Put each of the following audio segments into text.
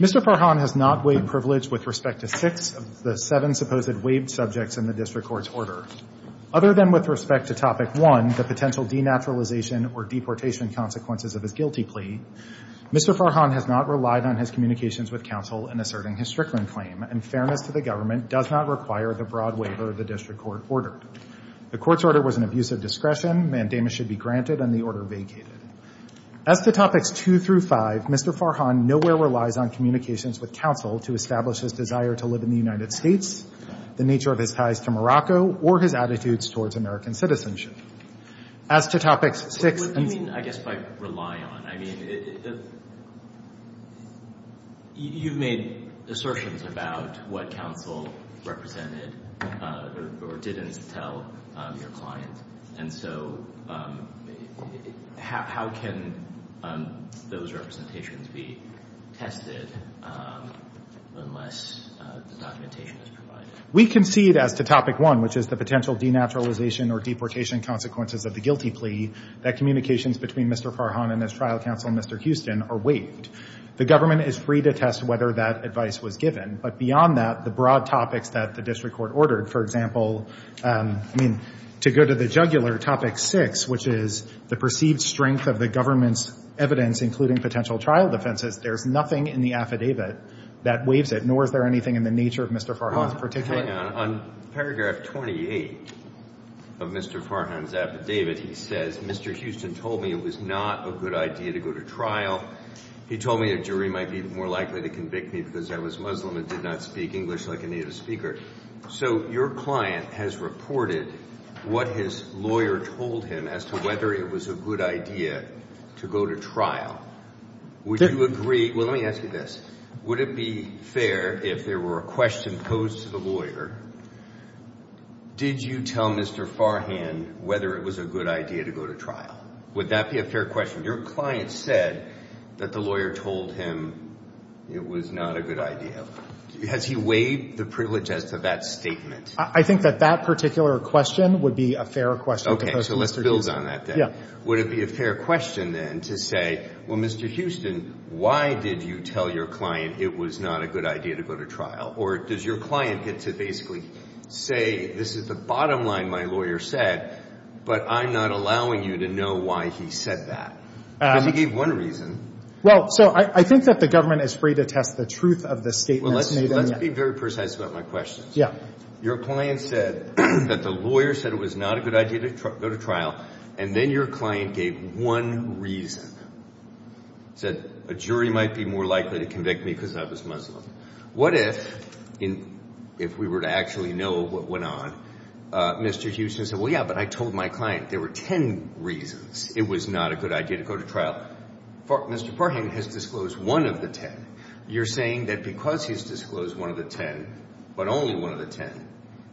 Mr. Farhane has not waived privilege with respect to six of the seven supposed waived subjects in the District Court's order. Other than with respect to Topic 1, the potential denaturalization or deportation consequences of his guilty plea, Mr. Farhane has not relied on his communications with counsel in asserting his Strickland claim, and fairness to the government does not require the broad waiver of the District Court order. The Court's order was an abuse of discretion, mandamus should be granted, and the order vacated. As to Topics 2 through 5, Mr. Farhane nowhere relies on communications with counsel to establish his desire to live in the United States, the nature of his ties to Morocco, or his attitudes towards American citizenship. As to Topics 6 and 5 — Mr. Farhane What do you mean, I guess, by rely on? I mean, if — you've made assertions about what counsel represented or didn't tell your client, and so how can those representations be tested unless the documentation is provided? We concede as to Topic 1, which is the potential denaturalization or deportation consequences of the guilty plea, that communications between Mr. Farhane and his trial counsel, Mr. Houston, are waived. The government is free to test whether that advice was given, but beyond that, the broad topics that the district court ordered — for example, to go to the jugular, Topic 6, which is the perceived strength of the government's evidence, including potential trial defenses — there's nothing in the affidavit that waives it, nor is there anything in the nature of Mr. Farhane's particular — Hang on. On paragraph 28 of Mr. Farhane's affidavit, he says, Mr. Houston told me it was not a good idea to go to trial. He told me a jury might be more likely to convict me because I was Muslim and did not speak English like a native speaker. So your client has reported what his lawyer told him as to whether it was a good idea to go to trial. Would you agree — Well, let me ask you this. Would it be fair, if there were a question posed to the lawyer, did you tell Mr. Farhane whether it was a good idea to go to trial? Would that be a fair question? Your client said that the lawyer told him it was not a good idea. Has he waived the privilege as to that statement? I think that that particular question would be a fair question to pose to Mr. Houston. Okay. So let's build on that, then. Yeah. Would it be a fair question, then, to say, well, Mr. Houston, why did you tell your client it was not a good idea to go to trial? Or does your client get to basically say, this is the bottom line my lawyer said, but I'm not allowing you to know why he said that? Because he gave one reason. Well, so I think that the government is free to test the truth of the statements made on Well, let's be very precise about my questions. Yeah. Your client said that the lawyer said it was not a good idea to go to trial, and then your client gave one reason, said a jury might be more likely to convict me because I was Muslim. What if, if we were to actually know what went on, Mr. Houston said, well, yeah, but I told my client there were ten reasons it was not a good idea to go to trial. Mr. Parham has disclosed one of the ten. You're saying that because he's disclosed one of the ten, but only one of the ten,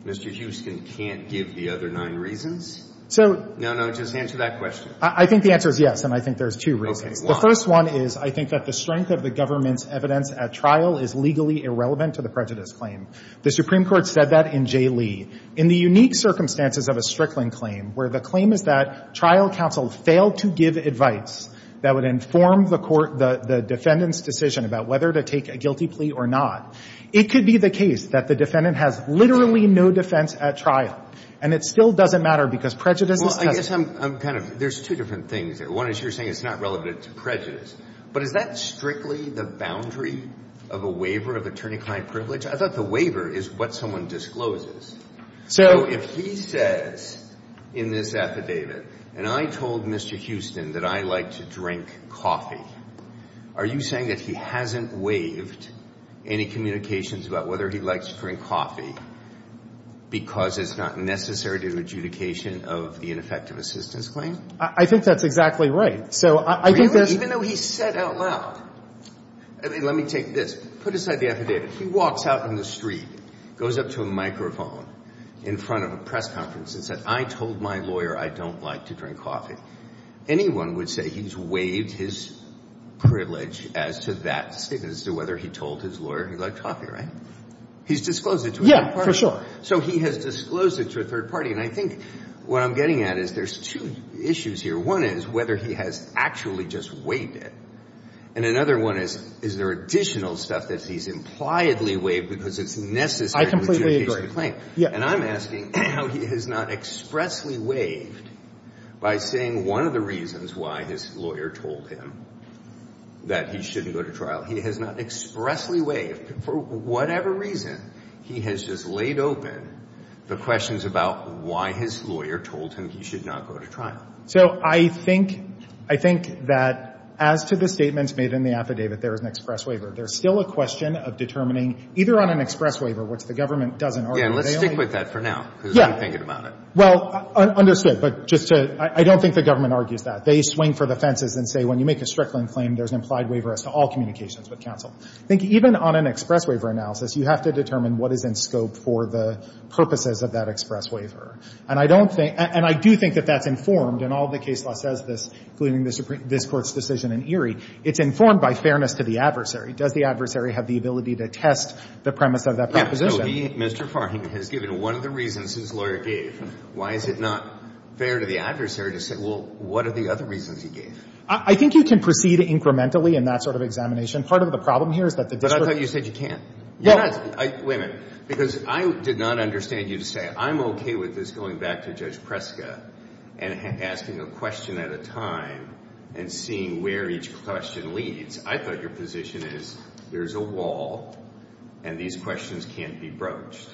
Mr. Houston can't give the other nine reasons? So No, no, just answer that question. I think the answer is yes, and I think there's two reasons. The first one is I think that the strength of the government's evidence at trial is legally irrelevant to the prejudice claim. The Supreme Court said that in Jay Lee. In the unique circumstances of a Strickland claim, where the claim is that trial counsel failed to give advice that would inform the court, the defendant's decision about whether to take a guilty plea or not, it could be the case that the defendant has literally no defense at trial. And it still doesn't matter because prejudice is present. Well, I guess I'm kind of, there's two different things there. One is you're saying it's not relevant to prejudice, but is that strictly the boundary of a waiver of attorney-client privilege? I thought the waiver is what someone discloses. So if he says in this affidavit, and I told Mr. Houston that I like to drink coffee, are you saying that he hasn't waived any communications about whether he likes to drink coffee because it's not necessary to the adjudication of the ineffective assistance claim? I think that's exactly right. So I think that's Even though he said out loud. I mean, let me take this. Put aside the affidavit. He walks out in the street, goes up to a microphone in front of a press conference and said, I told my lawyer I don't like to drink coffee. Anyone would say he's waived his privilege as to that statement as to whether he told his lawyer he liked coffee, right? He's disclosed it to a third party. Yeah, for sure. So he has disclosed it to a third party. And I think what I'm getting at is there's two issues here. One is whether he has actually just waived it. And another one is, is there additional stuff that he's impliedly waived because it's necessary to the adjudication of the claim? And I'm asking how he has not expressly waived by saying one of the reasons why his lawyer told him that he shouldn't go to trial. He has not expressly waived. For whatever reason, he has just laid open the questions about why his lawyer told him he should not go to trial. So I think that as to the statements made in the affidavit, there is an express waiver. There's still a question of determining either on an express waiver, which the government doesn't argue. Yeah, let's stick with that for now because I'm thinking about it. Well, understood. But just to – I don't think the government argues that. They swing for the fences and say when you make a Strickland claim, there's an implied waiver as to all communications with counsel. I think even on an express waiver analysis, you have to determine what is in scope for the purposes of that express waiver. And I don't think – and I do think that that's informed, and all of the case law says this, including this Court's decision in Erie, it's informed by fairness to the adversary. Does the adversary have the ability to test the premise of that proposition? So he, Mr. Farring, has given one of the reasons his lawyer gave. Why is it not fair to the adversary to say, well, what are the other reasons he gave? I think you can proceed incrementally in that sort of examination. Part of the problem here is that the district – But I thought you said you can't. No. Wait a minute. Because I did not understand you to say I'm okay with this going back to Judge Preska and asking a question at a time and seeing where each question leads. I thought your position is there's a wall and these questions can't be broached.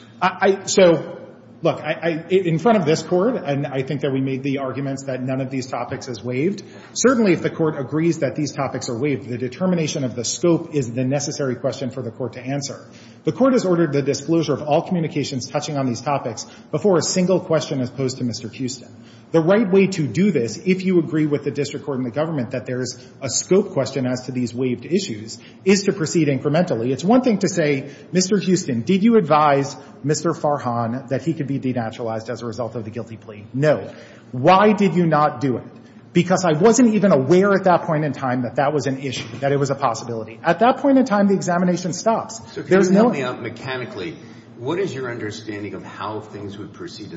So, look, in front of this Court, and I think that we made the arguments that none of these topics is waived, certainly if the Court agrees that these topics are waived, the determination of the scope is the necessary question for the Court to answer. The Court has ordered the disclosure of all communications touching on these topics before a single question is posed to Mr. Houston. The right way to do this, if you agree with the district court and the government that there's a scope question as to these waived issues, is to proceed incrementally. It's one thing to say, Mr. Houston, did you advise Mr. Farhan that he could be denaturalized as a result of the guilty plea? No. Why did you not do it? Because I wasn't even aware at that point in time that that was an issue, that it was a possibility. At that point in time, the examination stops. There's no – So can you help me out mechanically? What is your understanding of how things would proceed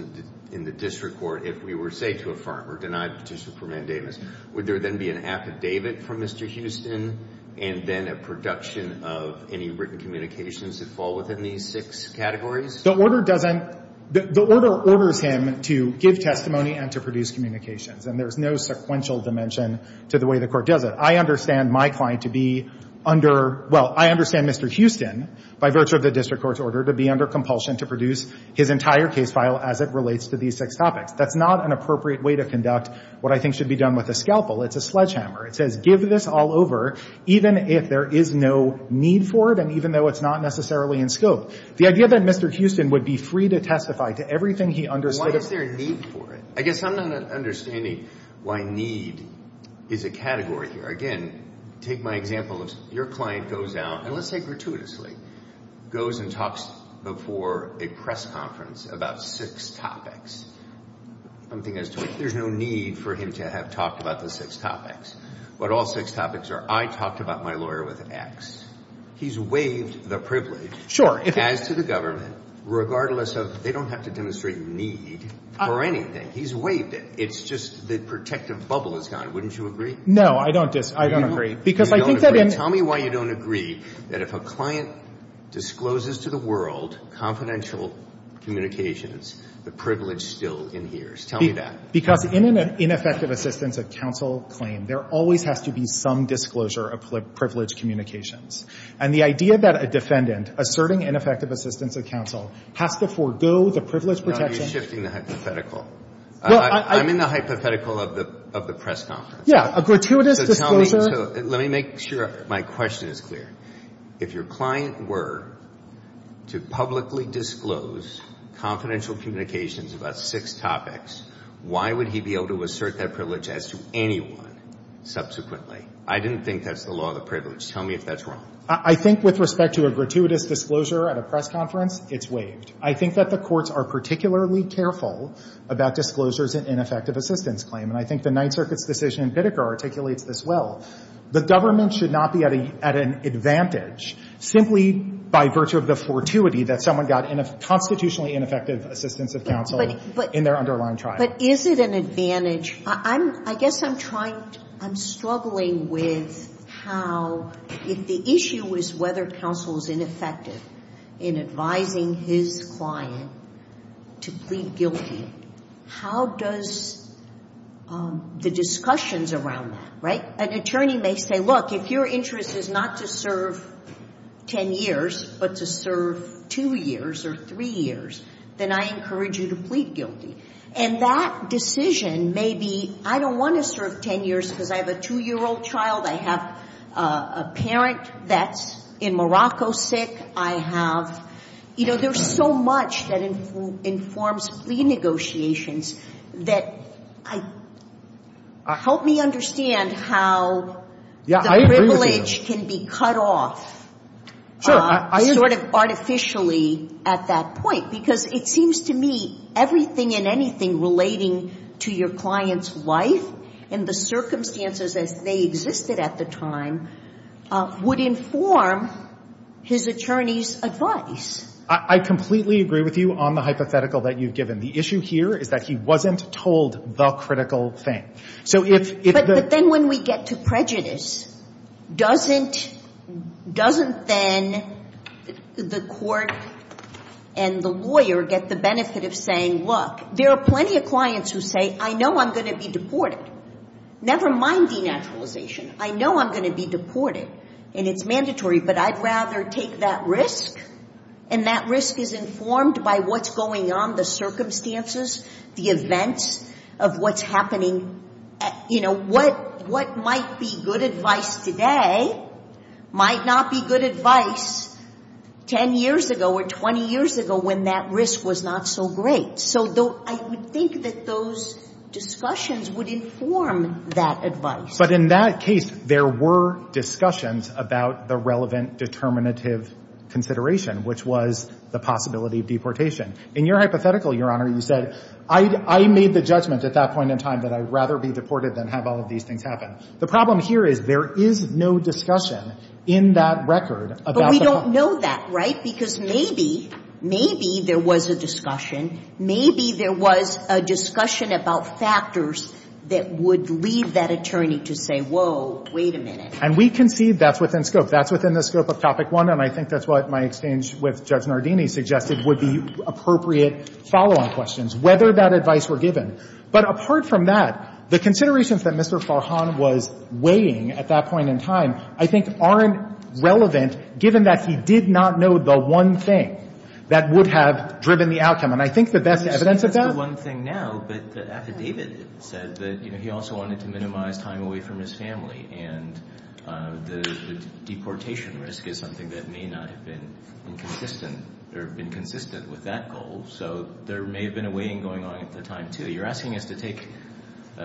in the district court if we were to say to a farmer, denied petition for mandamus, would there then be an affidavit from Mr. Houston and then a production of any written communications that fall within these six categories? The order doesn't – the order orders him to give testimony and to produce communications, and there's no sequential dimension to the way the Court does it. I understand my client to be under – well, I understand Mr. Houston, by virtue of the district court's order, to be under compulsion to produce his entire case file as it relates to these six topics. That's not an appropriate way to conduct what I think should be done with a scalpel. It's a sledgehammer. It says give this all over, even if there is no need for it and even though it's not necessarily in scope. The idea that Mr. Houston would be free to testify to everything he understood – Why is there a need for it? I guess I'm not understanding why need is a category here. Again, take my example of your client goes out, and let's say gratuitously, goes and talks before a press conference about six topics, something as to if there's no need for him to have talked about the six topics. What all six topics are, I talked about my lawyer with X. He's waived the privilege. Sure. As to the government, regardless of – they don't have to demonstrate need for anything. He's waived it. It's just the protective bubble is gone. Wouldn't you agree? No, I don't disagree. I don't agree. Because I think that in – I don't agree that if a client discloses to the world confidential communications, the privilege still inheres. Tell me that. Because in an ineffective assistance of counsel claim, there always has to be some disclosure of privileged communications. And the idea that a defendant asserting ineffective assistance of counsel has to forgo the privilege protection – No, you're shifting the hypothetical. I'm in the hypothetical of the press conference. Yeah, a gratuitous disclosure – Let me make sure my question is clear. If your client were to publicly disclose confidential communications about six topics, why would he be able to assert that privilege as to anyone subsequently? I didn't think that's the law of the privilege. Tell me if that's wrong. I think with respect to a gratuitous disclosure at a press conference, it's waived. I think that the courts are particularly careful about disclosures in ineffective assistance claim. And I think the Ninth Circuit's decision in Pitica articulates this well. The government should not be at an advantage simply by virtue of the fortuity that someone got in a constitutionally ineffective assistance of counsel in their underlying trial. But is it an advantage? I'm – I guess I'm trying – I'm struggling with how – if the issue is whether counsel is ineffective in advising his client to plead guilty, how does the discussions around that, right? An attorney may say, look, if your interest is not to serve ten years but to serve two years or three years, then I encourage you to plead guilty. And that decision may be, I don't want to serve ten years because I have a two-year-old child, I have a parent that's in Morocco sick, I have – you know, there's so much that informs plea negotiations that I – help me understand how the privilege can be cut off sort of artificially at that point. Because it seems to me everything and anything relating to your client's life and the circumstances as they existed at the time would inform his attorney's advice. I completely agree with you on the hypothetical that you've given. The issue here is that he wasn't told the critical thing. So if the – But then when we get to prejudice, doesn't – doesn't then the court and the lawyer get the benefit of saying, look, there are plenty of clients who say, I know I'm going to be deported. Never mind denaturalization. I know I'm going to be deported and it's mandatory, but I'd rather take that risk and that risk is informed by what's going on, the circumstances, the events of what's happening. You know, what might be good advice today might not be good advice ten years ago or 20 years ago when that risk was not so great. So I would think that those discussions would inform that advice. But in that case, there were discussions about the relevant determinative consideration, which was the possibility of deportation. In your hypothetical, Your Honor, you said, I made the judgment at that point in time that I'd rather be deported than have all of these things happen. The problem here is there is no discussion in that record about the – But we don't know that, right? Because maybe, maybe there was a discussion. Maybe there was a discussion about factors that would lead that attorney to say, whoa, wait a minute. And we concede that's within scope. That's within the scope of Topic 1, and I think that's what my exchange with Judge Nardini suggested would be appropriate follow-on questions, whether that advice were given. But apart from that, the considerations that Mr. Farhan was weighing at that point in time I think aren't relevant, given that he did not know the one thing that would have driven the outcome. And I think that that's evidence of that. That's the one thing now, but the affidavit said that he also wanted to minimize time away from his family, and the deportation risk is something that may not have been consistent or been consistent with that goal. So there may have been a weighing going on at the time, too. You're asking us to take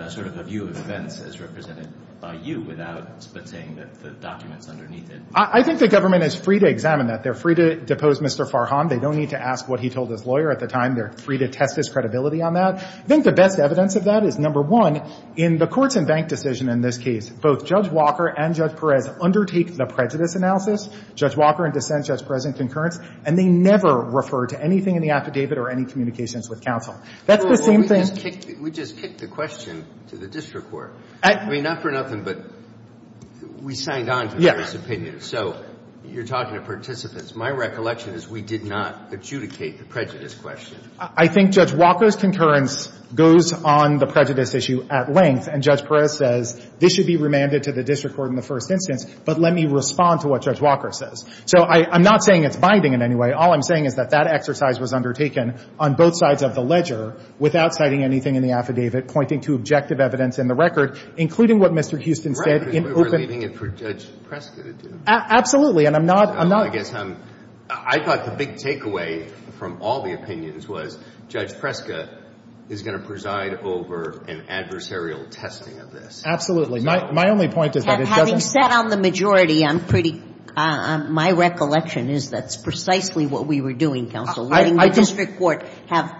sort of a view of events as represented by you without saying that the document's underneath it. I think the government is free to examine that. They're free to depose Mr. Farhan. They don't need to ask what he told his lawyer at the time. They're free to test his credibility on that. I think the best evidence of that is, number one, in the courts and bank decision in this case, both Judge Walker and Judge Perez undertake the prejudice analysis, Judge Walker in dissent, Judge Perez in concurrence, and they never refer to anything in the affidavit or any communications with counsel. That's the same thing. Well, we just kicked the question to the district court. I mean, not for nothing, but we signed on to the jury's opinion. So you're talking to participants. My recollection is we did not adjudicate the prejudice question. I think Judge Walker's concurrence goes on the prejudice issue at length, and Judge Perez says this should be remanded to the district court in the first instance, but let me respond to what Judge Walker says. So I'm not saying it's binding in any way. All I'm saying is that that exercise was undertaken on both sides of the ledger without citing anything in the affidavit pointing to objective evidence in the record, including what Mr. Houston said in open – Right, but we're leaving it for Judge Perez to do. Absolutely. And I'm not – I'm not – I guess I'm – I thought the big takeaway from all the opinions was Judge Preska is going to preside over an adversarial testing of this. Absolutely. My only point is that it doesn't – Having sat on the majority, I'm pretty – my recollection is that's precisely what we were doing, counsel, letting the district court have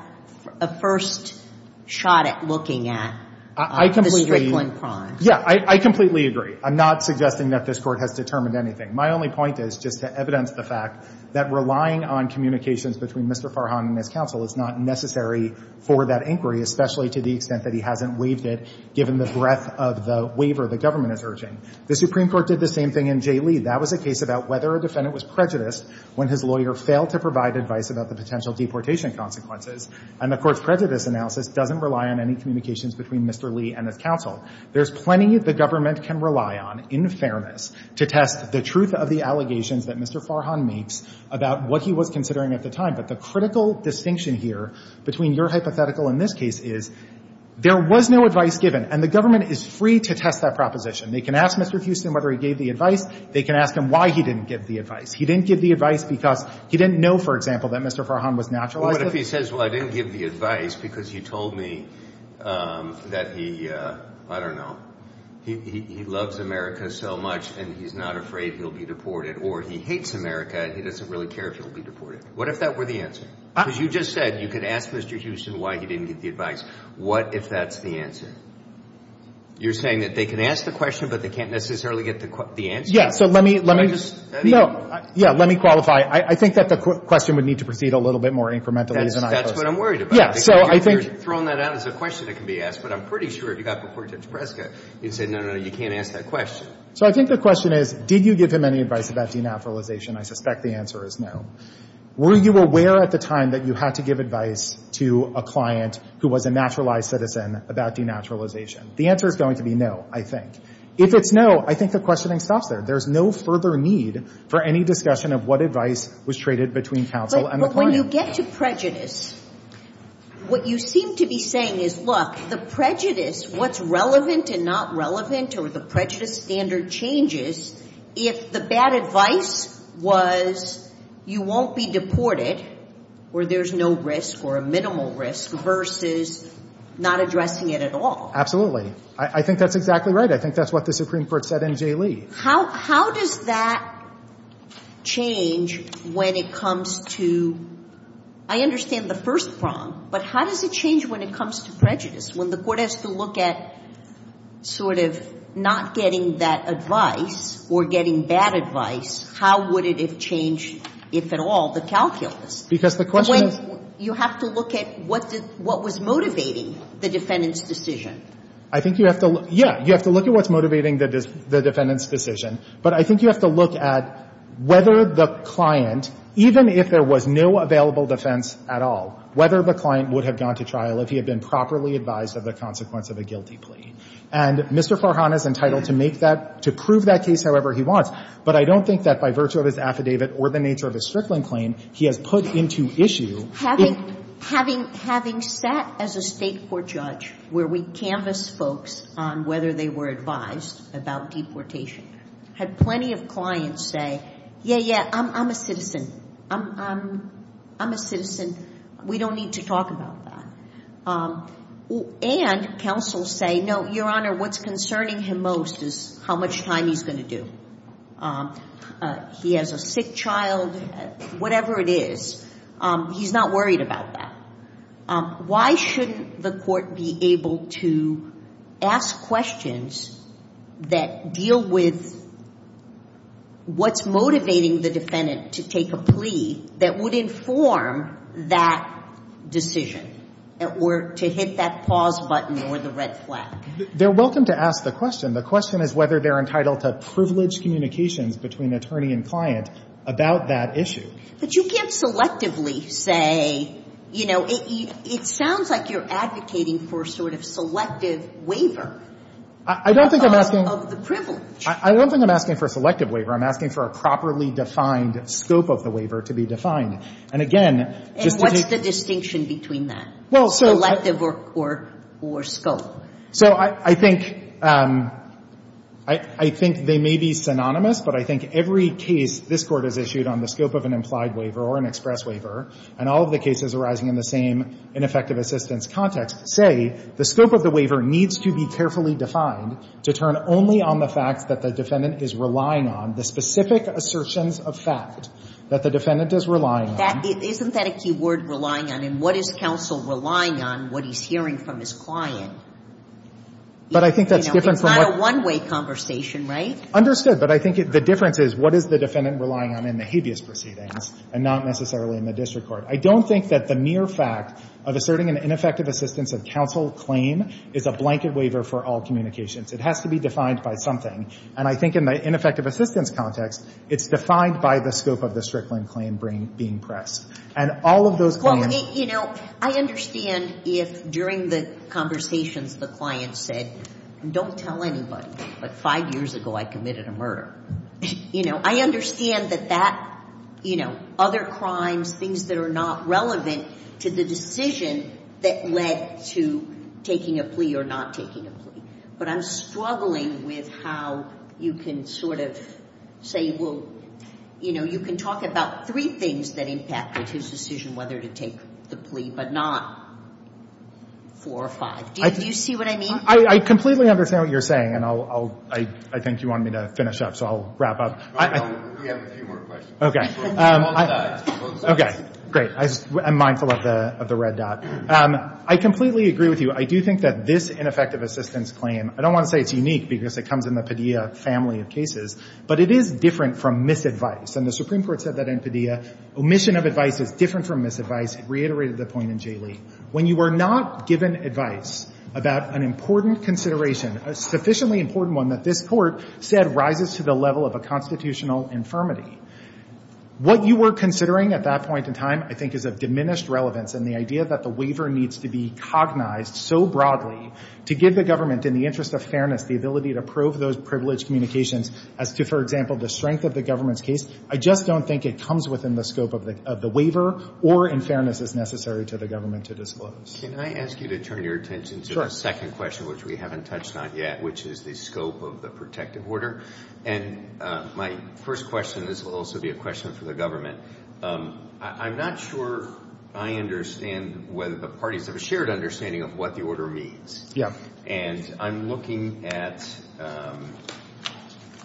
a first shot at looking at the Strickland crime. I completely – yeah, I completely agree. I'm not suggesting that this Court has determined anything. My only point is just to evidence the fact that relying on communications between Mr. Farhan and his counsel is not necessary for that inquiry, especially to the extent that he hasn't waived it given the breadth of the waiver the government is urging. The Supreme Court did the same thing in Jay Lee. That was a case about whether a defendant was prejudiced when his lawyer failed to provide advice about the potential deportation consequences. And the Court's prejudice analysis doesn't rely on any communications between Mr. Lee and his counsel. There's plenty the government can rely on in fairness to test the truth of the allegations that Mr. Farhan makes about what he was considering at the time. But the critical distinction here between your hypothetical and this case is there was no advice given. And the government is free to test that proposition. They can ask Mr. Houston whether he gave the advice. They can ask him why he didn't give the advice. He didn't give the advice because he didn't know, for example, that Mr. Farhan was naturalized to this. He says, well, I didn't give the advice because he told me that he, I don't know, he loves America so much and he's not afraid he'll be deported. Or he hates America and he doesn't really care if he'll be deported. What if that were the answer? Because you just said you could ask Mr. Houston why he didn't give the advice. What if that's the answer? You're saying that they can ask the question, but they can't necessarily get the answer? Yes. So let me, let me. No. Yes. Let me qualify. I think that the question would need to proceed a little bit more incrementally. That's what I'm worried about. Yeah, so I think. You're throwing that out as a question that can be asked, but I'm pretty sure if you got deported to Nebraska, you'd say, no, no, no, you can't ask that question. So I think the question is, did you give him any advice about denaturalization? I suspect the answer is no. Were you aware at the time that you had to give advice to a client who was a naturalized citizen about denaturalization? The answer is going to be no, I think. If it's no, I think the questioning stops there. There's no further need for any discussion of what advice was traded between counsel and the client. But when you get to prejudice, what you seem to be saying is, look, the prejudice, what's relevant and not relevant or the prejudice standard changes, if the bad advice was you won't be deported or there's no risk or a minimal risk versus not addressing it at all. Absolutely. I think that's exactly right. I think that's what the Supreme Court said in J. Lee. How does that change when it comes to, I understand the first prong, but how does it change when it comes to prejudice? When the court has to look at sort of not getting that advice or getting bad advice, how would it have changed, if at all, the calculus? Because the question is you have to look at what was motivating the defendant's decision. I think you have to look, yeah, you have to look at what's motivating the defendant's decision, but I think you have to look at whether the client, even if there was no available defense at all, whether the client would have gone to trial if he had been properly advised of the consequence of a guilty plea. And Mr. Farhan is entitled to make that, to prove that case however he wants, but I don't think that by virtue of his affidavit or the nature of his Strickland claim, he has put into issue. Having sat as a state court judge where we canvassed folks on whether they were advised about deportation, had plenty of clients say, yeah, yeah, I'm a citizen. I'm a citizen. We don't need to talk about that. And counsels say, no, Your Honor, what's concerning him most is how much time he's going to do. He has a sick child, whatever it is. He's not worried about that. Why shouldn't the court be able to ask questions that deal with what's motivating the defendant to take a plea that would inform that decision or to hit that pause button or the red flag? They're welcome to ask the question. The question is whether they're entitled to privilege communications between attorney and client about that issue. But you can't selectively say, you know, it sounds like you're advocating for a sort of selective waiver of the privilege. I don't think I'm asking for a selective waiver. I'm asking for a properly defined scope of the waiver to be defined. And again, just to take the distinction between that, selective or scope. So I think they may be synonymous, but I think every case this Court has issued on the scope of an implied waiver or an express waiver, and all of the cases arising in the same ineffective assistance context, say the scope of the waiver needs to be carefully defined to turn only on the facts that the defendant is relying on, the specific assertions of fact that the defendant is relying on. Isn't that a key word, relying on? And what is counsel relying on what he's hearing from his client? But I think that's different from what — It's not a one-way conversation, right? Understood. But I think the difference is, what is the defendant relying on in the habeas proceedings and not necessarily in the district court? I don't think that the mere fact of asserting an ineffective assistance of counsel claim is a blanket waiver for all communications. It has to be defined by something. And I think in the ineffective assistance context, it's defined by the scope of the Strickland claim being pressed. And all of those claims — I mean, you know, I understand if during the conversations the client said, don't tell anybody, but five years ago I committed a murder. You know, I understand that that, you know, other crimes, things that are not relevant to the decision that led to taking a plea or not taking a plea. But I'm struggling with how you can sort of say, well, you know, you can talk about three things that impact his decision whether to take the plea but not four or five. Do you see what I mean? I completely understand what you're saying, and I'll — I think you want me to finish up, so I'll wrap up. We have a few more questions. Okay. Both sides. Both sides. Okay. Great. I'm mindful of the red dot. I completely agree with you. I do think that this ineffective assistance claim, I don't want to say it's unique because it comes in the Padilla family of cases, but it is different from misadvice. And the Supreme Court said that in Padilla, omission of advice is different from misadvice. It reiterated the point in J. Lee. When you are not given advice about an important consideration, a sufficiently important one that this Court said rises to the level of a constitutional infirmity, what you were considering at that point in time I think is of diminished relevance in the idea that the waiver needs to be cognized so broadly to give the government, in the interest of fairness, the ability to prove those privileged communications as to, for example, the strength of the government's case. I just don't think it comes within the scope of the waiver or, in fairness, is necessary to the government to disclose. Can I ask you to turn your attention to the second question, which we haven't touched on yet, which is the scope of the protective order? And my first question, and this will also be a question for the government, I'm not sure I understand whether the parties have a shared understanding of what the order means. Yeah. And I'm looking at,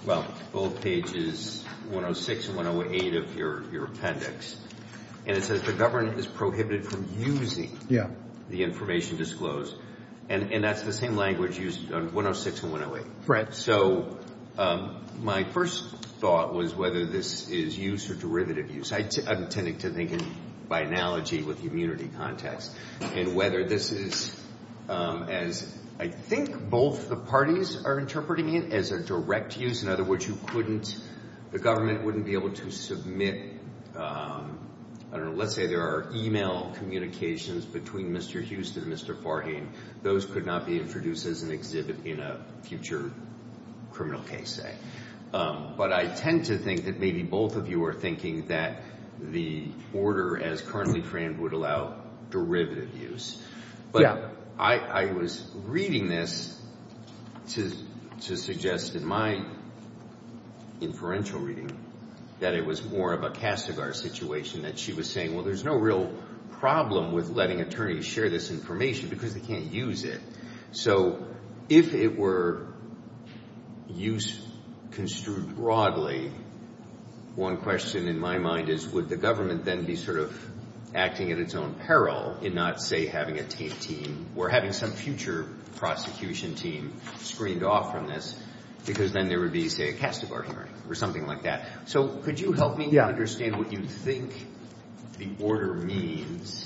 well, both pages 106 and 108 of your appendix. And it says the government is prohibited from using the information disclosed. And that's the same language used on 106 and 108. Right. So my first thought was whether this is use or derivative use. I'm tending to think by analogy with the immunity context. And whether this is, as I think both the parties are interpreting it, as a direct use. In other words, you couldn't, the government wouldn't be able to submit, I don't know, let's say there are e-mail communications between Mr. Huston and Mr. Farhain. Those could not be introduced as an exhibit in a future criminal case, say. But I tend to think that maybe both of you are thinking that the order as currently framed would allow derivative use. Yeah. But I was reading this to suggest in my inferential reading that it was more of a Kassigar situation. That she was saying, well, there's no real problem with letting attorneys share this information because they can't use it. So if it were use construed broadly, one question in my mind is would the government then be sort of acting at its own peril in not, say, having a team or having some future prosecution team screened off from this because then there would be, say, a Kassigar hearing or something like that. So could you help me understand what you think the order means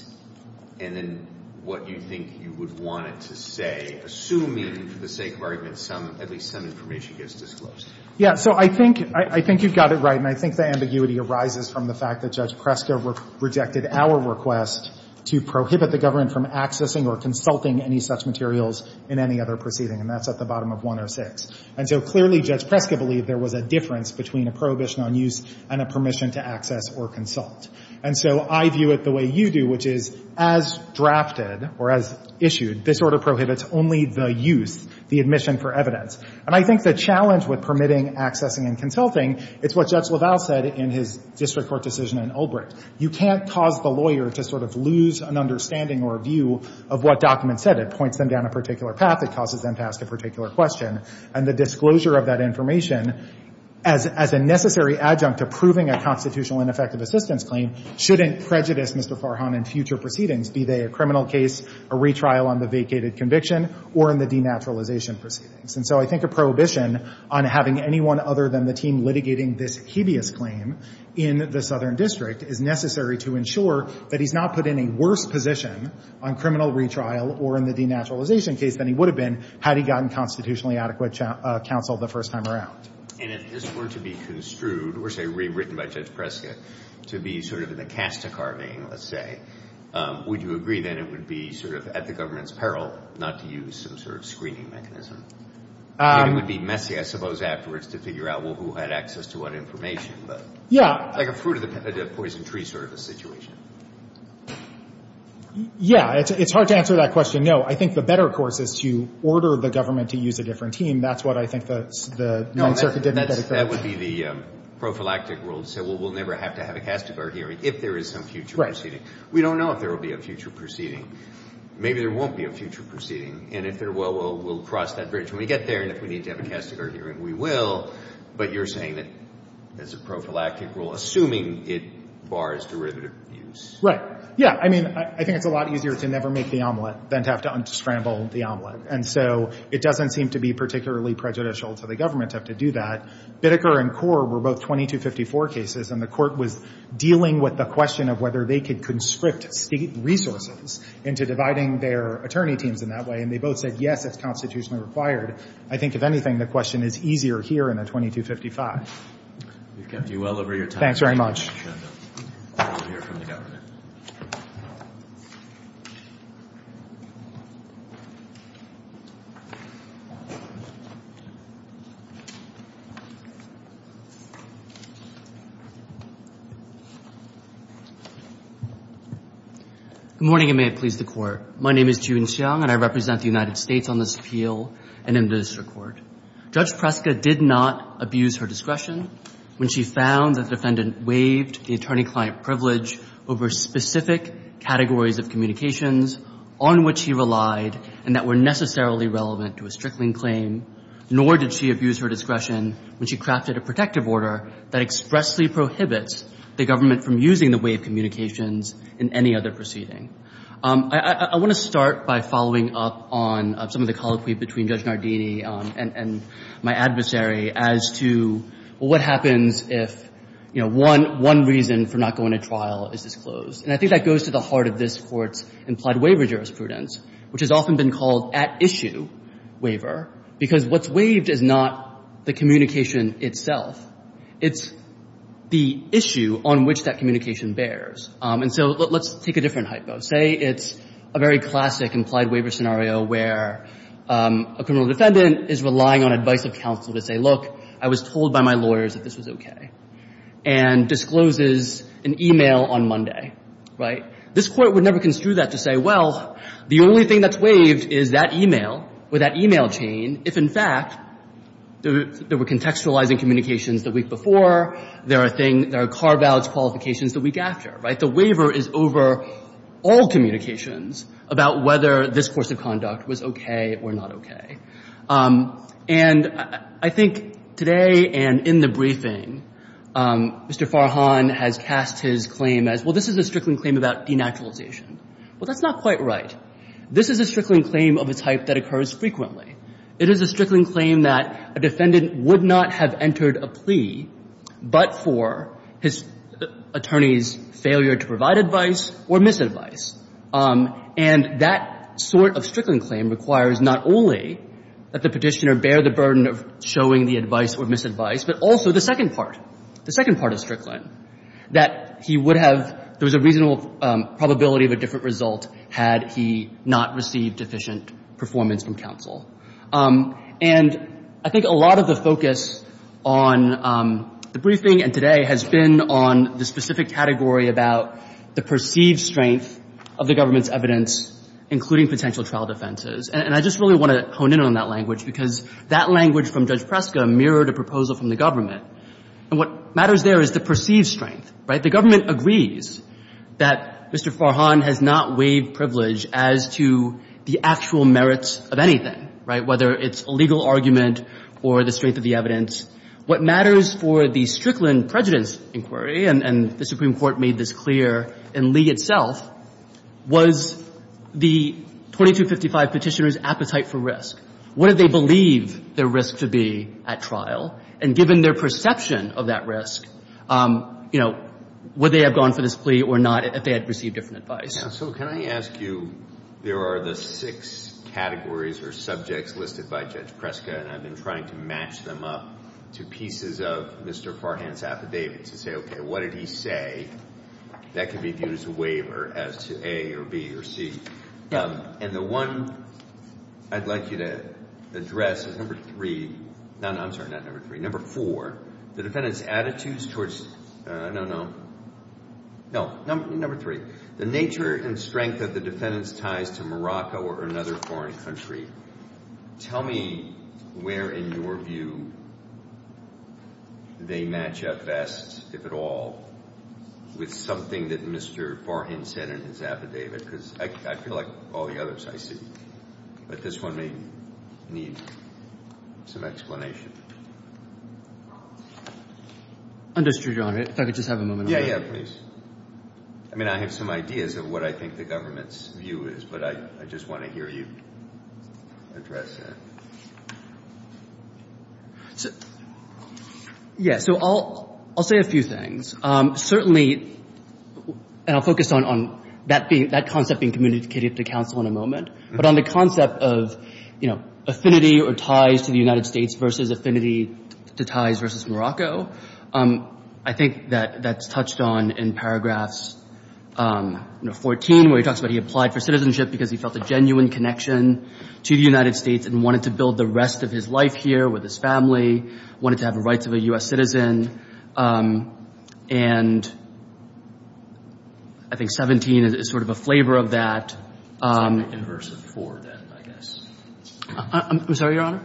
and then what you think you would want it to say, assuming for the sake of argument at least some information gets disclosed? Yeah. So I think you've got it right. And I think the ambiguity arises from the fact that Judge Preska rejected our request to prohibit the government from accessing or consulting any such materials in any other proceeding. And that's at the bottom of 106. And so clearly Judge Preska believed there was a difference between a prohibition on use and a permission to access or consult. And so I view it the way you do, which is as drafted or as issued, this order prohibits only the use, the admission for evidence. And I think the challenge with permitting, accessing, and consulting, it's what Judge LaValle said in his district court decision in Ulbricht. You can't cause the lawyer to sort of lose an understanding or a view of what documents said. It points them down a particular path. It causes them to ask a particular question. And the disclosure of that information as a necessary adjunct to proving a constitutional ineffective assistance claim shouldn't prejudice Mr. Farhan in future proceedings, be they a criminal case, a retrial on the vacated conviction, or in the denaturalization proceedings. And so I think a prohibition on having anyone other than the team litigating this hideous claim in the Southern District is necessary to ensure that he's not put in a worse position on criminal retrial or in the denaturalization case than he would have been had he gotten constitutionally adequate counsel the first time around. And if this were to be construed, or say rewritten by Judge Prescott, to be sort of in the cast-a-carving, let's say, would you agree, then, it would be sort of at the government's peril not to use some sort of screening mechanism? It would be messy, I suppose, afterwards to figure out, well, who had access to what information. Yeah. Like a fruit-of-the-poison-tree sort of a situation. Yeah. It's hard to answer that question. No. I think the better course is to order the government to use a different team. That's what I think the Ninth Circuit didn't get across. That would be the prophylactic rule to say, well, we'll never have to have a cast-a-car hearing if there is some future proceeding. Right. We don't know if there will be a future proceeding. Maybe there won't be a future proceeding. And if there will, we'll cross that bridge. When we get there and if we need to have a cast-a-car hearing, we will. But you're saying that there's a prophylactic rule assuming it bars derivative use. Right. Yeah. I mean, I think it's a lot easier to never make the omelet than to have to unscramble the omelet. And so it doesn't seem to be particularly prejudicial to the government to have to do that. Biddecker and Korr were both 2254 cases, and the court was dealing with the question of whether they could conscript state resources into dividing their attorney teams in that way. And they both said, yes, it's constitutionally required. I think, if anything, the question is easier here in the 2255. We've kept you well over your time. Thanks very much. We'll hear from the government. Good morning, and may it please the Court. My name is Jun Xiong, and I represent the United States on this appeal and in this court. Judge Preska did not abuse her discretion when she found that the defendant waived the attorney-client privilege over specific categories of communications on which he relied and that were necessarily relevant to a strickling claim, nor did she abuse her discretion when she crafted a protective order that expressly prohibits the government from using the way of communications in any other proceeding. I want to start by following up on some of the colloquy between Judge Nardini and my adversary as to what happens if, you know, one reason for not going to trial is disclosed. And I think that goes to the heart of this Court's implied waiver jurisprudence, which has often been called at-issue waiver, because what's waived is not the communication itself. It's the issue on which that communication bears. And so let's take a different hypo. Say it's a very classic implied waiver scenario where a criminal defendant is relying on advice of counsel to say, look, I was told by my lawyers that this was okay, and discloses an e-mail on Monday, right? This Court would never construe that to say, well, the only thing that's waived is that e-mail or that e-mail chain if, in fact, there were contextualizing communications the week before, there are carve-outs, qualifications the week after, right? The waiver is over all communications about whether this course of conduct was okay or not okay. And I think today and in the briefing, Mr. Farhan has cast his claim as, well, this is a Strickland claim about denaturalization. Well, that's not quite right. This is a Strickland claim of a type that occurs frequently. It is a Strickland claim that a defendant would not have entered a plea but for his attorney's failure to provide advice or misadvice. And that sort of Strickland claim requires not only that the petitioner bear the burden of showing the advice or misadvice, but also the second part, the second part of Strickland, that he would have, there was a reasonable probability of a different result had he not received efficient performance from counsel. And I think a lot of the focus on the briefing and today has been on the specific category about the perceived strength of the government's evidence, including potential trial defenses. And I just really want to hone in on that language because that language from Judge Preska mirrored a proposal from the government. And what matters there is the perceived strength, right? The government agrees that Mr. Farhan has not waived privilege as to the actual merits of anything, right, whether it's a legal argument or the strength of the What matters for the Strickland prejudice inquiry, and the Supreme Court made this clear in Lee itself, was the 2255 petitioner's appetite for risk. What did they believe their risk to be at trial? And given their perception of that risk, you know, would they have gone for this plea or not if they had received different advice? So can I ask you, there are the six categories or subjects listed by Judge Preska, and I've been trying to match them up to pieces of Mr. Farhan's affidavit to say, okay, what did he say that could be viewed as a waiver as to A or B or C. And the one I'd like you to address is number three. No, no, I'm sorry, not number three. Number four, the defendant's attitudes towards... no, no. No, number three. The nature and strength of the defendant's ties to Morocco or another foreign country. Tell me where in your view they match up best, if at all, with something that Mr. Farhan said in his affidavit, because I feel like all the others I see. But this one may need some explanation. Understood, Your Honor. If I could just have a moment. Yeah, yeah, please. I mean, I have some ideas of what I think the government's view is, but I just want to hear you address that. Yeah, so I'll say a few things. Certainly, and I'll focus on that concept being communicated to counsel in a moment, but on the concept of affinity or ties to the United States versus affinity to ties versus Morocco, I think that's touched on in paragraphs 14, where he talks about he applied for citizenship because he felt a genuine connection to the United States and wanted to build the rest of his life here with his family, wanted to have the rights of a U.S. citizen. And I think 17 is sort of a flavor of that. It's on the inverse of four, then, I guess. I'm sorry, Your Honor?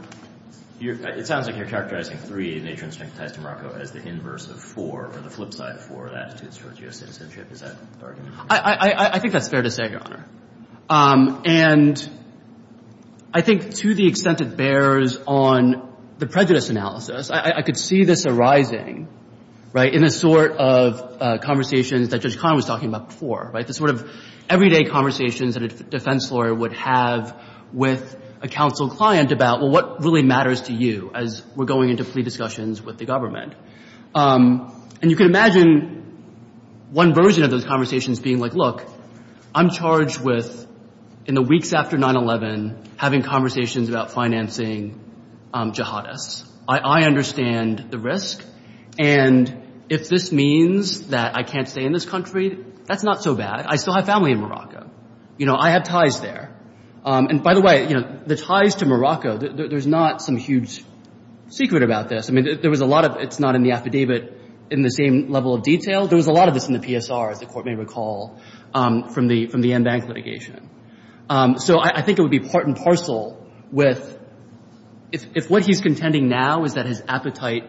It sounds like you're characterizing three in nature and strength of ties to Morocco as the inverse of four or the flip side of four attitudes towards U.S. citizenship. Is that correct? I think that's fair to say, Your Honor. And I think to the extent it bears on the prejudice analysis, I could see this arising in the sort of conversations that Judge Kahn was talking about before, right, the sort of everyday conversations that a defense lawyer would have with a counsel client about, well, what really matters to you as we're going into plea discussions with the government? And you can imagine one version of those conversations being like, look, I'm charged with, in the weeks after 9-11, having conversations about financing jihadists. I understand the risk. And if this means that I can't stay in this country, that's not so bad. I still have family in Morocco. You know, I have ties there. And, by the way, you know, the ties to Morocco, there's not some huge secret about this. I mean, there was a lot of it's not in the affidavit in the same level of detail. There was a lot of this in the PSR, as the Court may recall, from the en banc litigation. So I think it would be part and parcel with if what he's contending now is that his appetite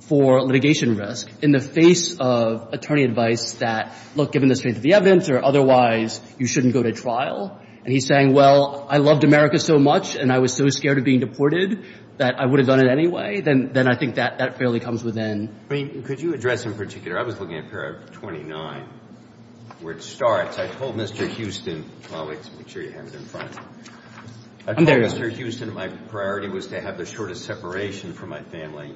for litigation risk, in the face of attorney advice that, look, given the strength of the evidence or otherwise, you shouldn't go to trial, and he's saying, well, I loved America so much and I was so scared of being deported that I would have done it anyway, then I think that fairly comes within. I mean, could you address in particular, I was looking at paragraph 29, where it starts. I told Mr. Houston, oh, wait, make sure you have it in front. I told Mr. Houston my priority was to have the shortest separation from my family.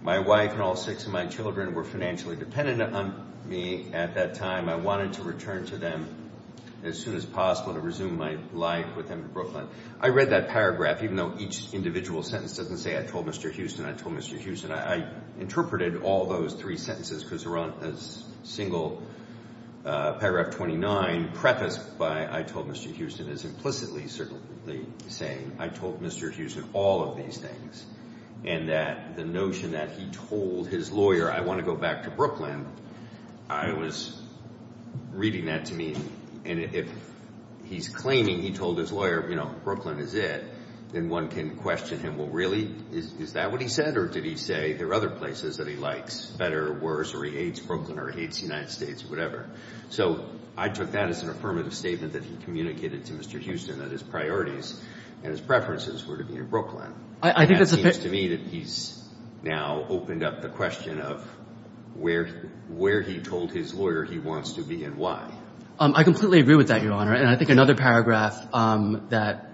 My wife and all six of my children were financially dependent on me at that time. I wanted to return to them as soon as possible to resume my life with them in Brooklyn. I read that paragraph, even though each individual sentence doesn't say I told Mr. Houston, I told Mr. Houston. I interpreted all those three sentences because they're on a single paragraph 29 prefaced by I told Mr. Houston is implicitly, certainly saying I told Mr. Houston all of these things, and that the notion that he told his lawyer I want to go back to Brooklyn, I was reading that to me, and if he's claiming he told his lawyer, you know, Brooklyn is it, then one can question him, well, really, is that what he said or did he say there are other places that he likes, better or worse, or he hates Brooklyn or he hates the United States or whatever. So I took that as an affirmative statement that he communicated to Mr. Houston that his priorities and his preferences were to be in Brooklyn. And that seems to me that he's now opened up the question of where he told his lawyer he wants to be and why. I completely agree with that, Your Honor. And I think another paragraph that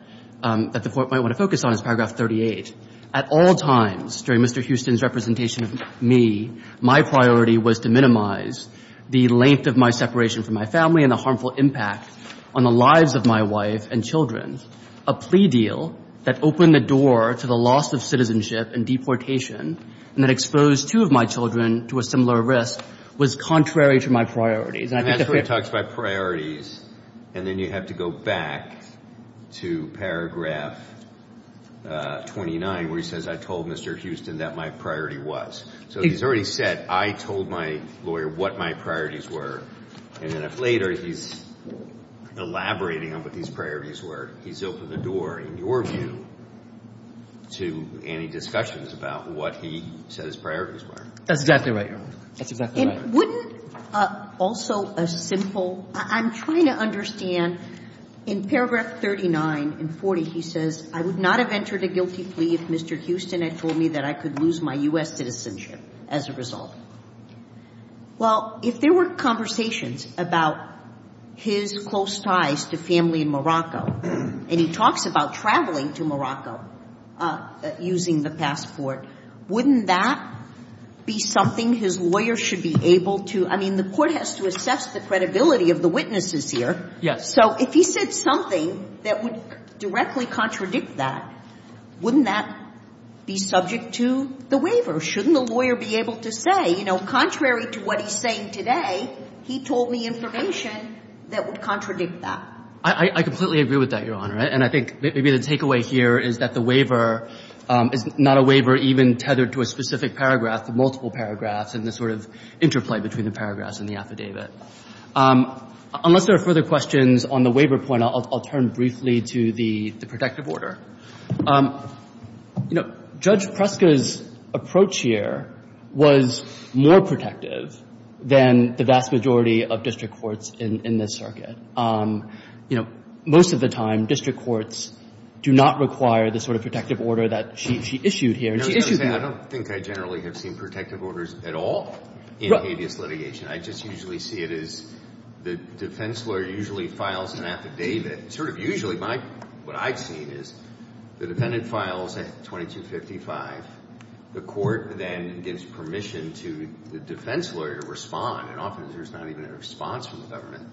the Court might want to focus on is paragraph 38. At all times during Mr. Houston's representation of me, my priority was to minimize the length of my separation from my family and the harmful impact on the lives of my wife and children. A plea deal that opened the door to the loss of citizenship and deportation and that exposed two of my children to a similar risk was contrary to my priorities. And I think that's where he talks about priorities, and then you have to go back to paragraph 29, where he says I told Mr. Houston that my priority was. So he's already said I told my lawyer what my priorities were. And then if later he's elaborating on what his priorities were, he's opened the door, in your view, to any discussions about what he said his priorities were. That's exactly right, Your Honor. That's exactly right. And wouldn't also a simple – I'm trying to understand. In paragraph 39 and 40, he says, I would not have entered a guilty plea if Mr. Houston had told me that I could lose my U.S. citizenship as a result. Well, if there were conversations about his close ties to family in Morocco, and he talks about traveling to Morocco using the passport, wouldn't that be something his lawyer should be able to – I mean, the court has to assess the credibility of the witnesses here. Yes. So if he said something that would directly contradict that, wouldn't that be subject to the waiver? Shouldn't the lawyer be able to say, you know, contrary to what he's saying today, he told me information that would contradict that? I completely agree with that, Your Honor. And I think maybe the takeaway here is that the waiver is not a waiver even tethered to a specific paragraph, the multiple paragraphs, and the sort of interplay between the paragraphs in the affidavit. Unless there are further questions on the waiver point, I'll turn briefly to the protective order. You know, Judge Preska's approach here was more protective than the vast majority of district courts in this circuit. You know, most of the time, district courts do not require the sort of protective order that she issued here. I don't think I generally have seen protective orders at all in habeas litigation. I just usually see it as the defense lawyer usually files an affidavit. Sort of usually what I've seen is the defendant files at 2255. The court then gives permission to the defense lawyer to respond, and often there's not even a response from the government.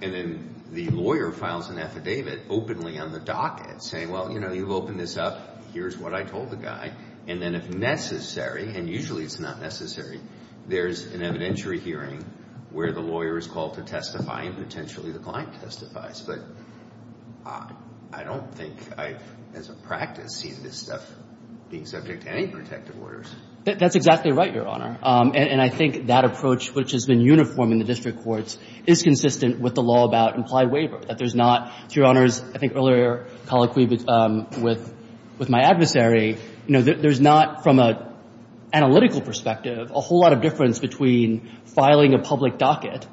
And then the lawyer files an affidavit openly on the docket saying, well, you know, you've opened this up, here's what I told the guy. And then if necessary, and usually it's not necessary, there's an evidentiary hearing where the lawyer is called to testify and potentially the client testifies. But I don't think I've, as a practice, seen this stuff being subject to any protective orders. That's exactly right, Your Honor. And I think that approach, which has been uniform in the district courts, is consistent with the law about implied waiver. That there's not, Your Honors, I think earlier colloquially with my adversary, you know, there's not, from an analytical perspective, a whole lot of difference between filing a public docket,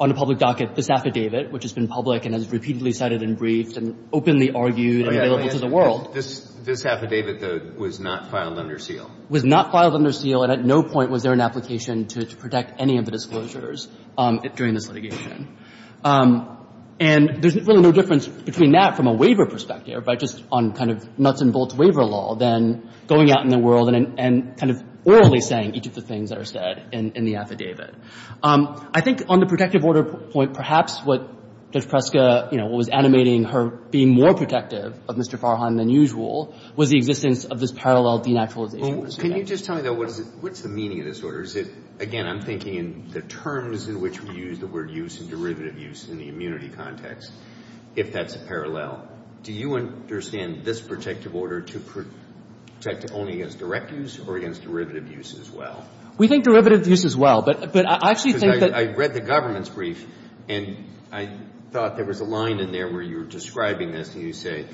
on a public docket, this affidavit, which has been public and has repeatedly cited and briefed and openly argued and available to the world. This affidavit, though, was not filed under seal. Was not filed under seal, and at no point was there an application to protect any of the disclosures during this litigation. And there's really no difference between that from a waiver perspective, by just on kind of nuts and bolts waiver law, than going out in the world and kind of orally saying each of the things that are said in the affidavit. I think on the protective order point, perhaps what Judge Preska, you know, was animating her being more protective of Mr. Farhan than usual, was the existence of this parallel denaturalization. Well, can you just tell me, though, what's the meaning of this order? Is it, again, I'm thinking in the terms in which we use the word use and derivative use in the immunity context, if that's a parallel. Do you understand this protective order to protect only against direct use or against derivative use as well? We think derivative use as well, but I actually think that – Because I read the government's brief, and I thought there was a line in there where you were describing this, and you say,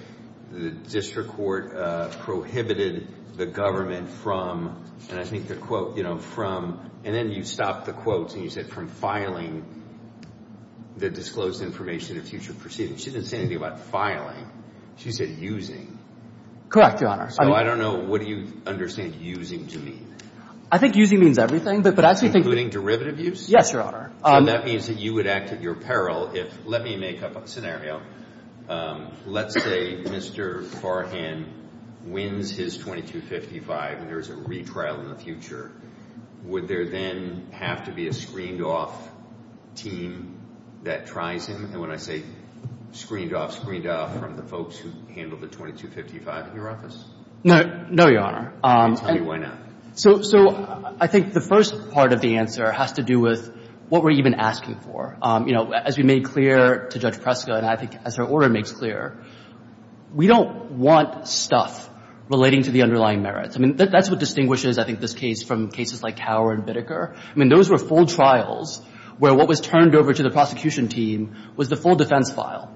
the district court prohibited the government from, and I think the quote, you know, from, and then you stopped the quotes, and you said, from filing the disclosed information in future proceedings. She didn't say anything about filing. She said using. Correct, Your Honor. So I don't know, what do you understand using to mean? I think using means everything, but I actually think – Including derivative use? Yes, Your Honor. So that means that you would act at your peril if, let me make up a scenario. Let's say Mr. Farhan wins his 2255, and there is a retrial in the future. Would there then have to be a screened-off team that tries him? And when I say screened-off, screened-off from the folks who handled the 2255 in your office? No. No, Your Honor. Tell me why not. So I think the first part of the answer has to do with what we're even asking for. You know, as we made clear to Judge Preskill, and I think as her order makes clear, we don't want stuff relating to the underlying merits. I mean, that's what distinguishes, I think, this case from cases like Tower and Bitteker. I mean, those were full trials where what was turned over to the prosecution team was the full defense file.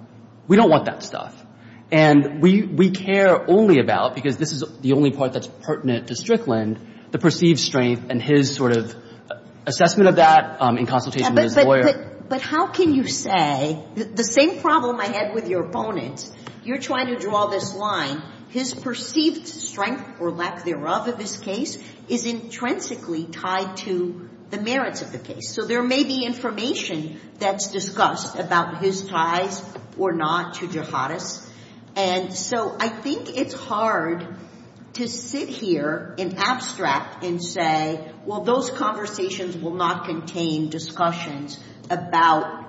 We don't want that stuff. And we care only about, because this is the only part that's pertinent to Strickland, the perceived strength and his sort of assessment of that in consultation with his lawyer. But how can you say the same problem I had with your opponent, you're trying to draw this line, his perceived strength or lack thereof of this case is intrinsically tied to the merits of the case. So there may be information that's discussed about his ties or not to Jihadists. And so I think it's hard to sit here in abstract and say, well, those conversations will not contain discussions about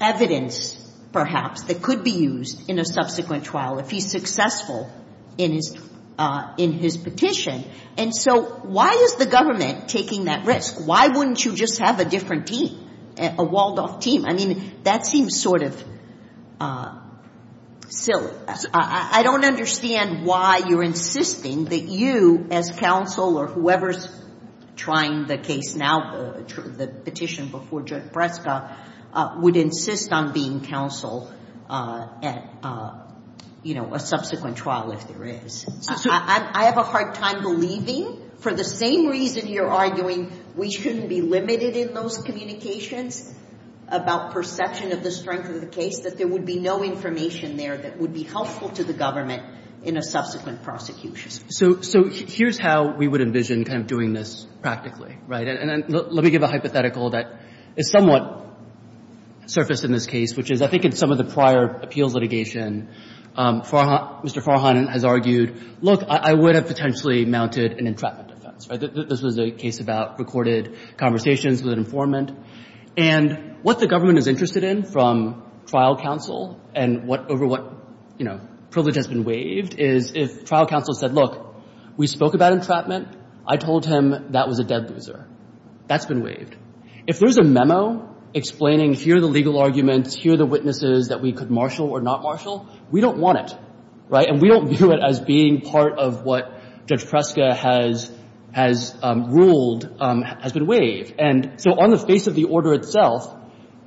evidence, perhaps, that could be used in a subsequent trial. If he's successful in his petition. And so why is the government taking that risk? Why wouldn't you just have a different team, a walled-off team? I mean, that seems sort of silly. I don't understand why you're insisting that you as counsel or whoever's trying the case now, the petition before Judge Breska, would insist on being counsel at, you know, a subsequent trial if there is. I have a hard time believing, for the same reason you're arguing we shouldn't be limited in those communications about perception of the strength of the case, that there would be no information there that would be helpful to the government in a subsequent prosecution. So here's how we would envision kind of doing this practically, right? And let me give a hypothetical that is somewhat surfaced in this case, which is I think in some of the prior appeals litigation, Mr. Farhan has argued, look, I would have potentially mounted an entrapment defense. This was a case about recorded conversations with an informant. And what the government is interested in from trial counsel and over what, you know, privilege has been waived, is if trial counsel said, look, we spoke about entrapment. I told him that was a dead loser. That's been waived. If there's a memo explaining here are the legal arguments, here are the witnesses that we could marshal or not marshal, we don't want it, right? And we don't view it as being part of what Judge Breska has ruled has been waived. And so on the face of the order itself,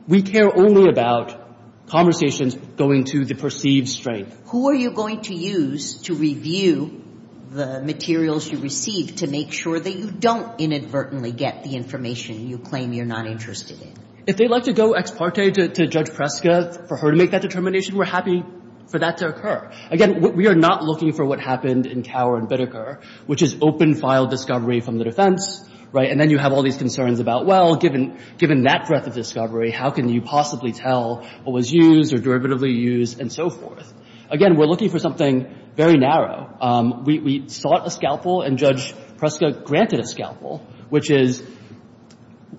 we care only about conversations going to the perceived strength. Who are you going to use to review the materials you receive to make sure that you don't inadvertently get the information you claim you're not interested in? If they'd like to go ex parte to Judge Breska for her to make that determination, we're happy for that to occur. Again, we are not looking for what happened in Cower and Bideker, which is open file discovery from the defense, right? And then you have all these concerns about, well, given that breadth of discovery, how can you possibly tell what was used or derivatively used and so forth? Again, we're looking for something very narrow. We sought a scalpel, and Judge Breska granted a scalpel, which is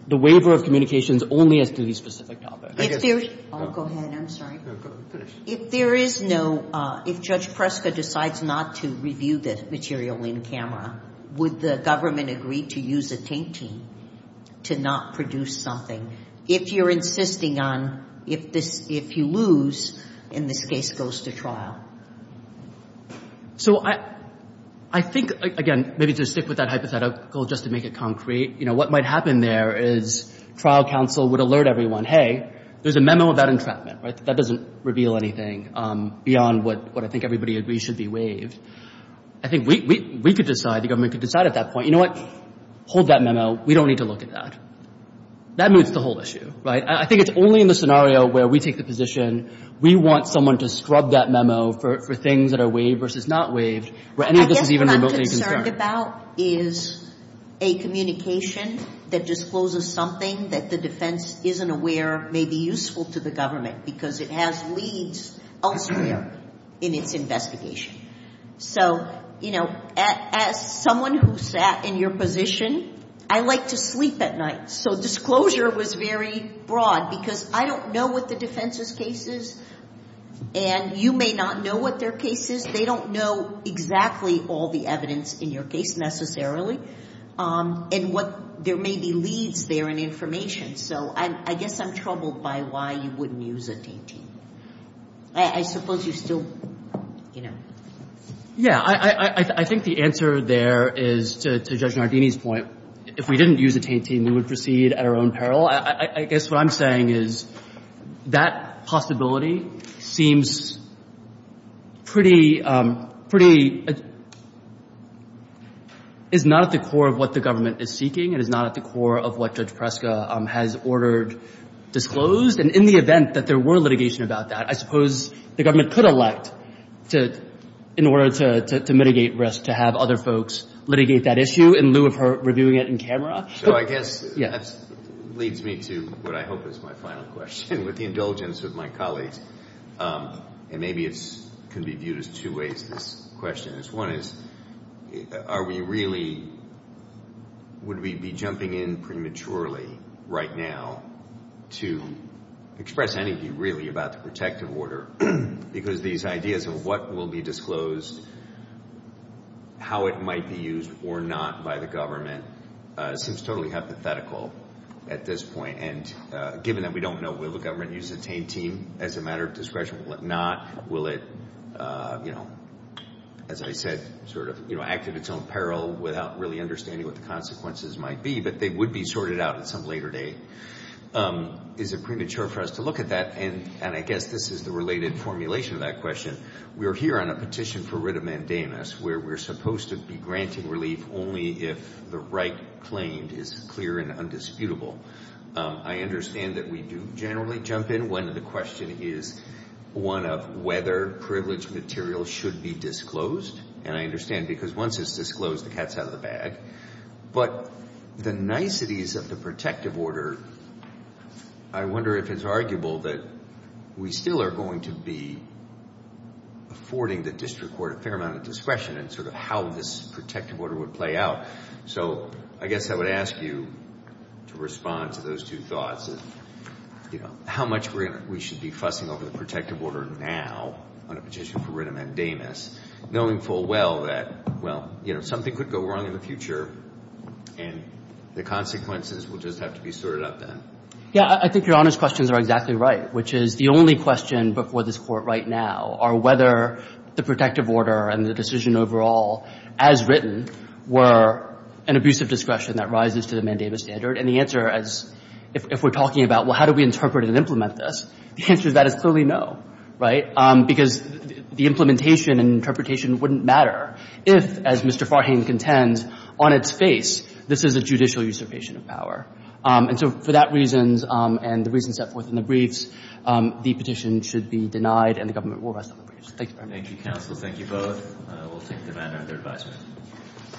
the waiver of communications only as to the specific topic. If there's no – oh, go ahead. I'm sorry. If there is no – if Judge Breska decides not to review the material in camera, would the government agree to use a taintee to not produce something? If you're insisting on – if this – if you lose and this case goes to trial. So I think, again, maybe to stick with that hypothetical just to make it concrete, you know, what might happen there is trial counsel would alert everyone, hey, there's a memo about entrapment, right? That doesn't reveal anything beyond what I think everybody agrees should be waived. I think we could decide, the government could decide at that point, you know what? Hold that memo. We don't need to look at that. That moves the whole issue, right? I think it's only in the scenario where we take the position we want someone to scrub that memo for things that are waived versus not waived, where any of this is even remotely concerned. I guess what I'm concerned about is a communication that discloses something that the defense isn't aware may be useful to the government because it has leads elsewhere in its investigation. So, you know, as someone who sat in your position, I like to sleep at night. So disclosure was very broad because I don't know what the defense's case is, and you may not know what their case is. They don't know exactly all the evidence in your case necessarily and what – there may be leads there and information. So I guess I'm troubled by why you wouldn't use a DT. I suppose you still, you know. Yeah. I think the answer there is, to Judge Nardini's point, if we didn't use a DT, we would proceed at our own peril. I guess what I'm saying is that possibility seems pretty – pretty – is not at the core of what the government is seeking. It is not at the core of what Judge Preska has ordered disclosed. And in the event that there were litigation about that, I suppose the government could elect to – in order to mitigate risk, to have other folks litigate that issue in lieu of her reviewing it in camera. So I guess that leads me to what I hope is my final question, with the indulgence of my colleagues. And maybe it can be viewed as two ways, this question. One is, are we really – would we be jumping in prematurely right now to express anything really about the protective order? Because these ideas of what will be disclosed, how it might be used or not by the government, seems totally hypothetical at this point. And given that we don't know, will the government use a DT as a matter of discretion? Will it not? Will it, you know, as I said, sort of, you know, act at its own peril without really understanding what the consequences might be? But they would be sorted out at some later date. Is it premature for us to look at that? And I guess this is the related formulation of that question. We are here on a petition for writ of mandamus where we're supposed to be granting relief only if the right claimed is clear and undisputable. I understand that we do generally jump in when the question is one of whether privileged material should be disclosed. And I understand because once it's disclosed, the cat's out of the bag. But the niceties of the protective order, I wonder if it's arguable that we still are going to be affording the district court a fair amount of discretion in sort of how this protective order would play out. So I guess I would ask you to respond to those two thoughts of, you know, how much we should be fussing over the protective order now on a petition for writ of mandamus, knowing full well that, well, you know, something could go wrong in the future and the consequences will just have to be sorted out then. Yeah, I think Your Honor's questions are exactly right, which is the only question before this Court right now are whether the protective order and the decision overall as written were an abusive discretion that rises to the mandamus standard. And the answer is, if we're talking about, well, how do we interpret and implement this, the answer to that is clearly no, right? Because the implementation and interpretation wouldn't matter if, as Mr. Farhan contends, on its face this is a judicial usurpation of power. And so for that reason and the reasons set forth in the briefs, the petition should be denied and the government will rest on the briefs. Thank you very much. Thank you, counsel. Thank you both. We'll take the matter under advisement.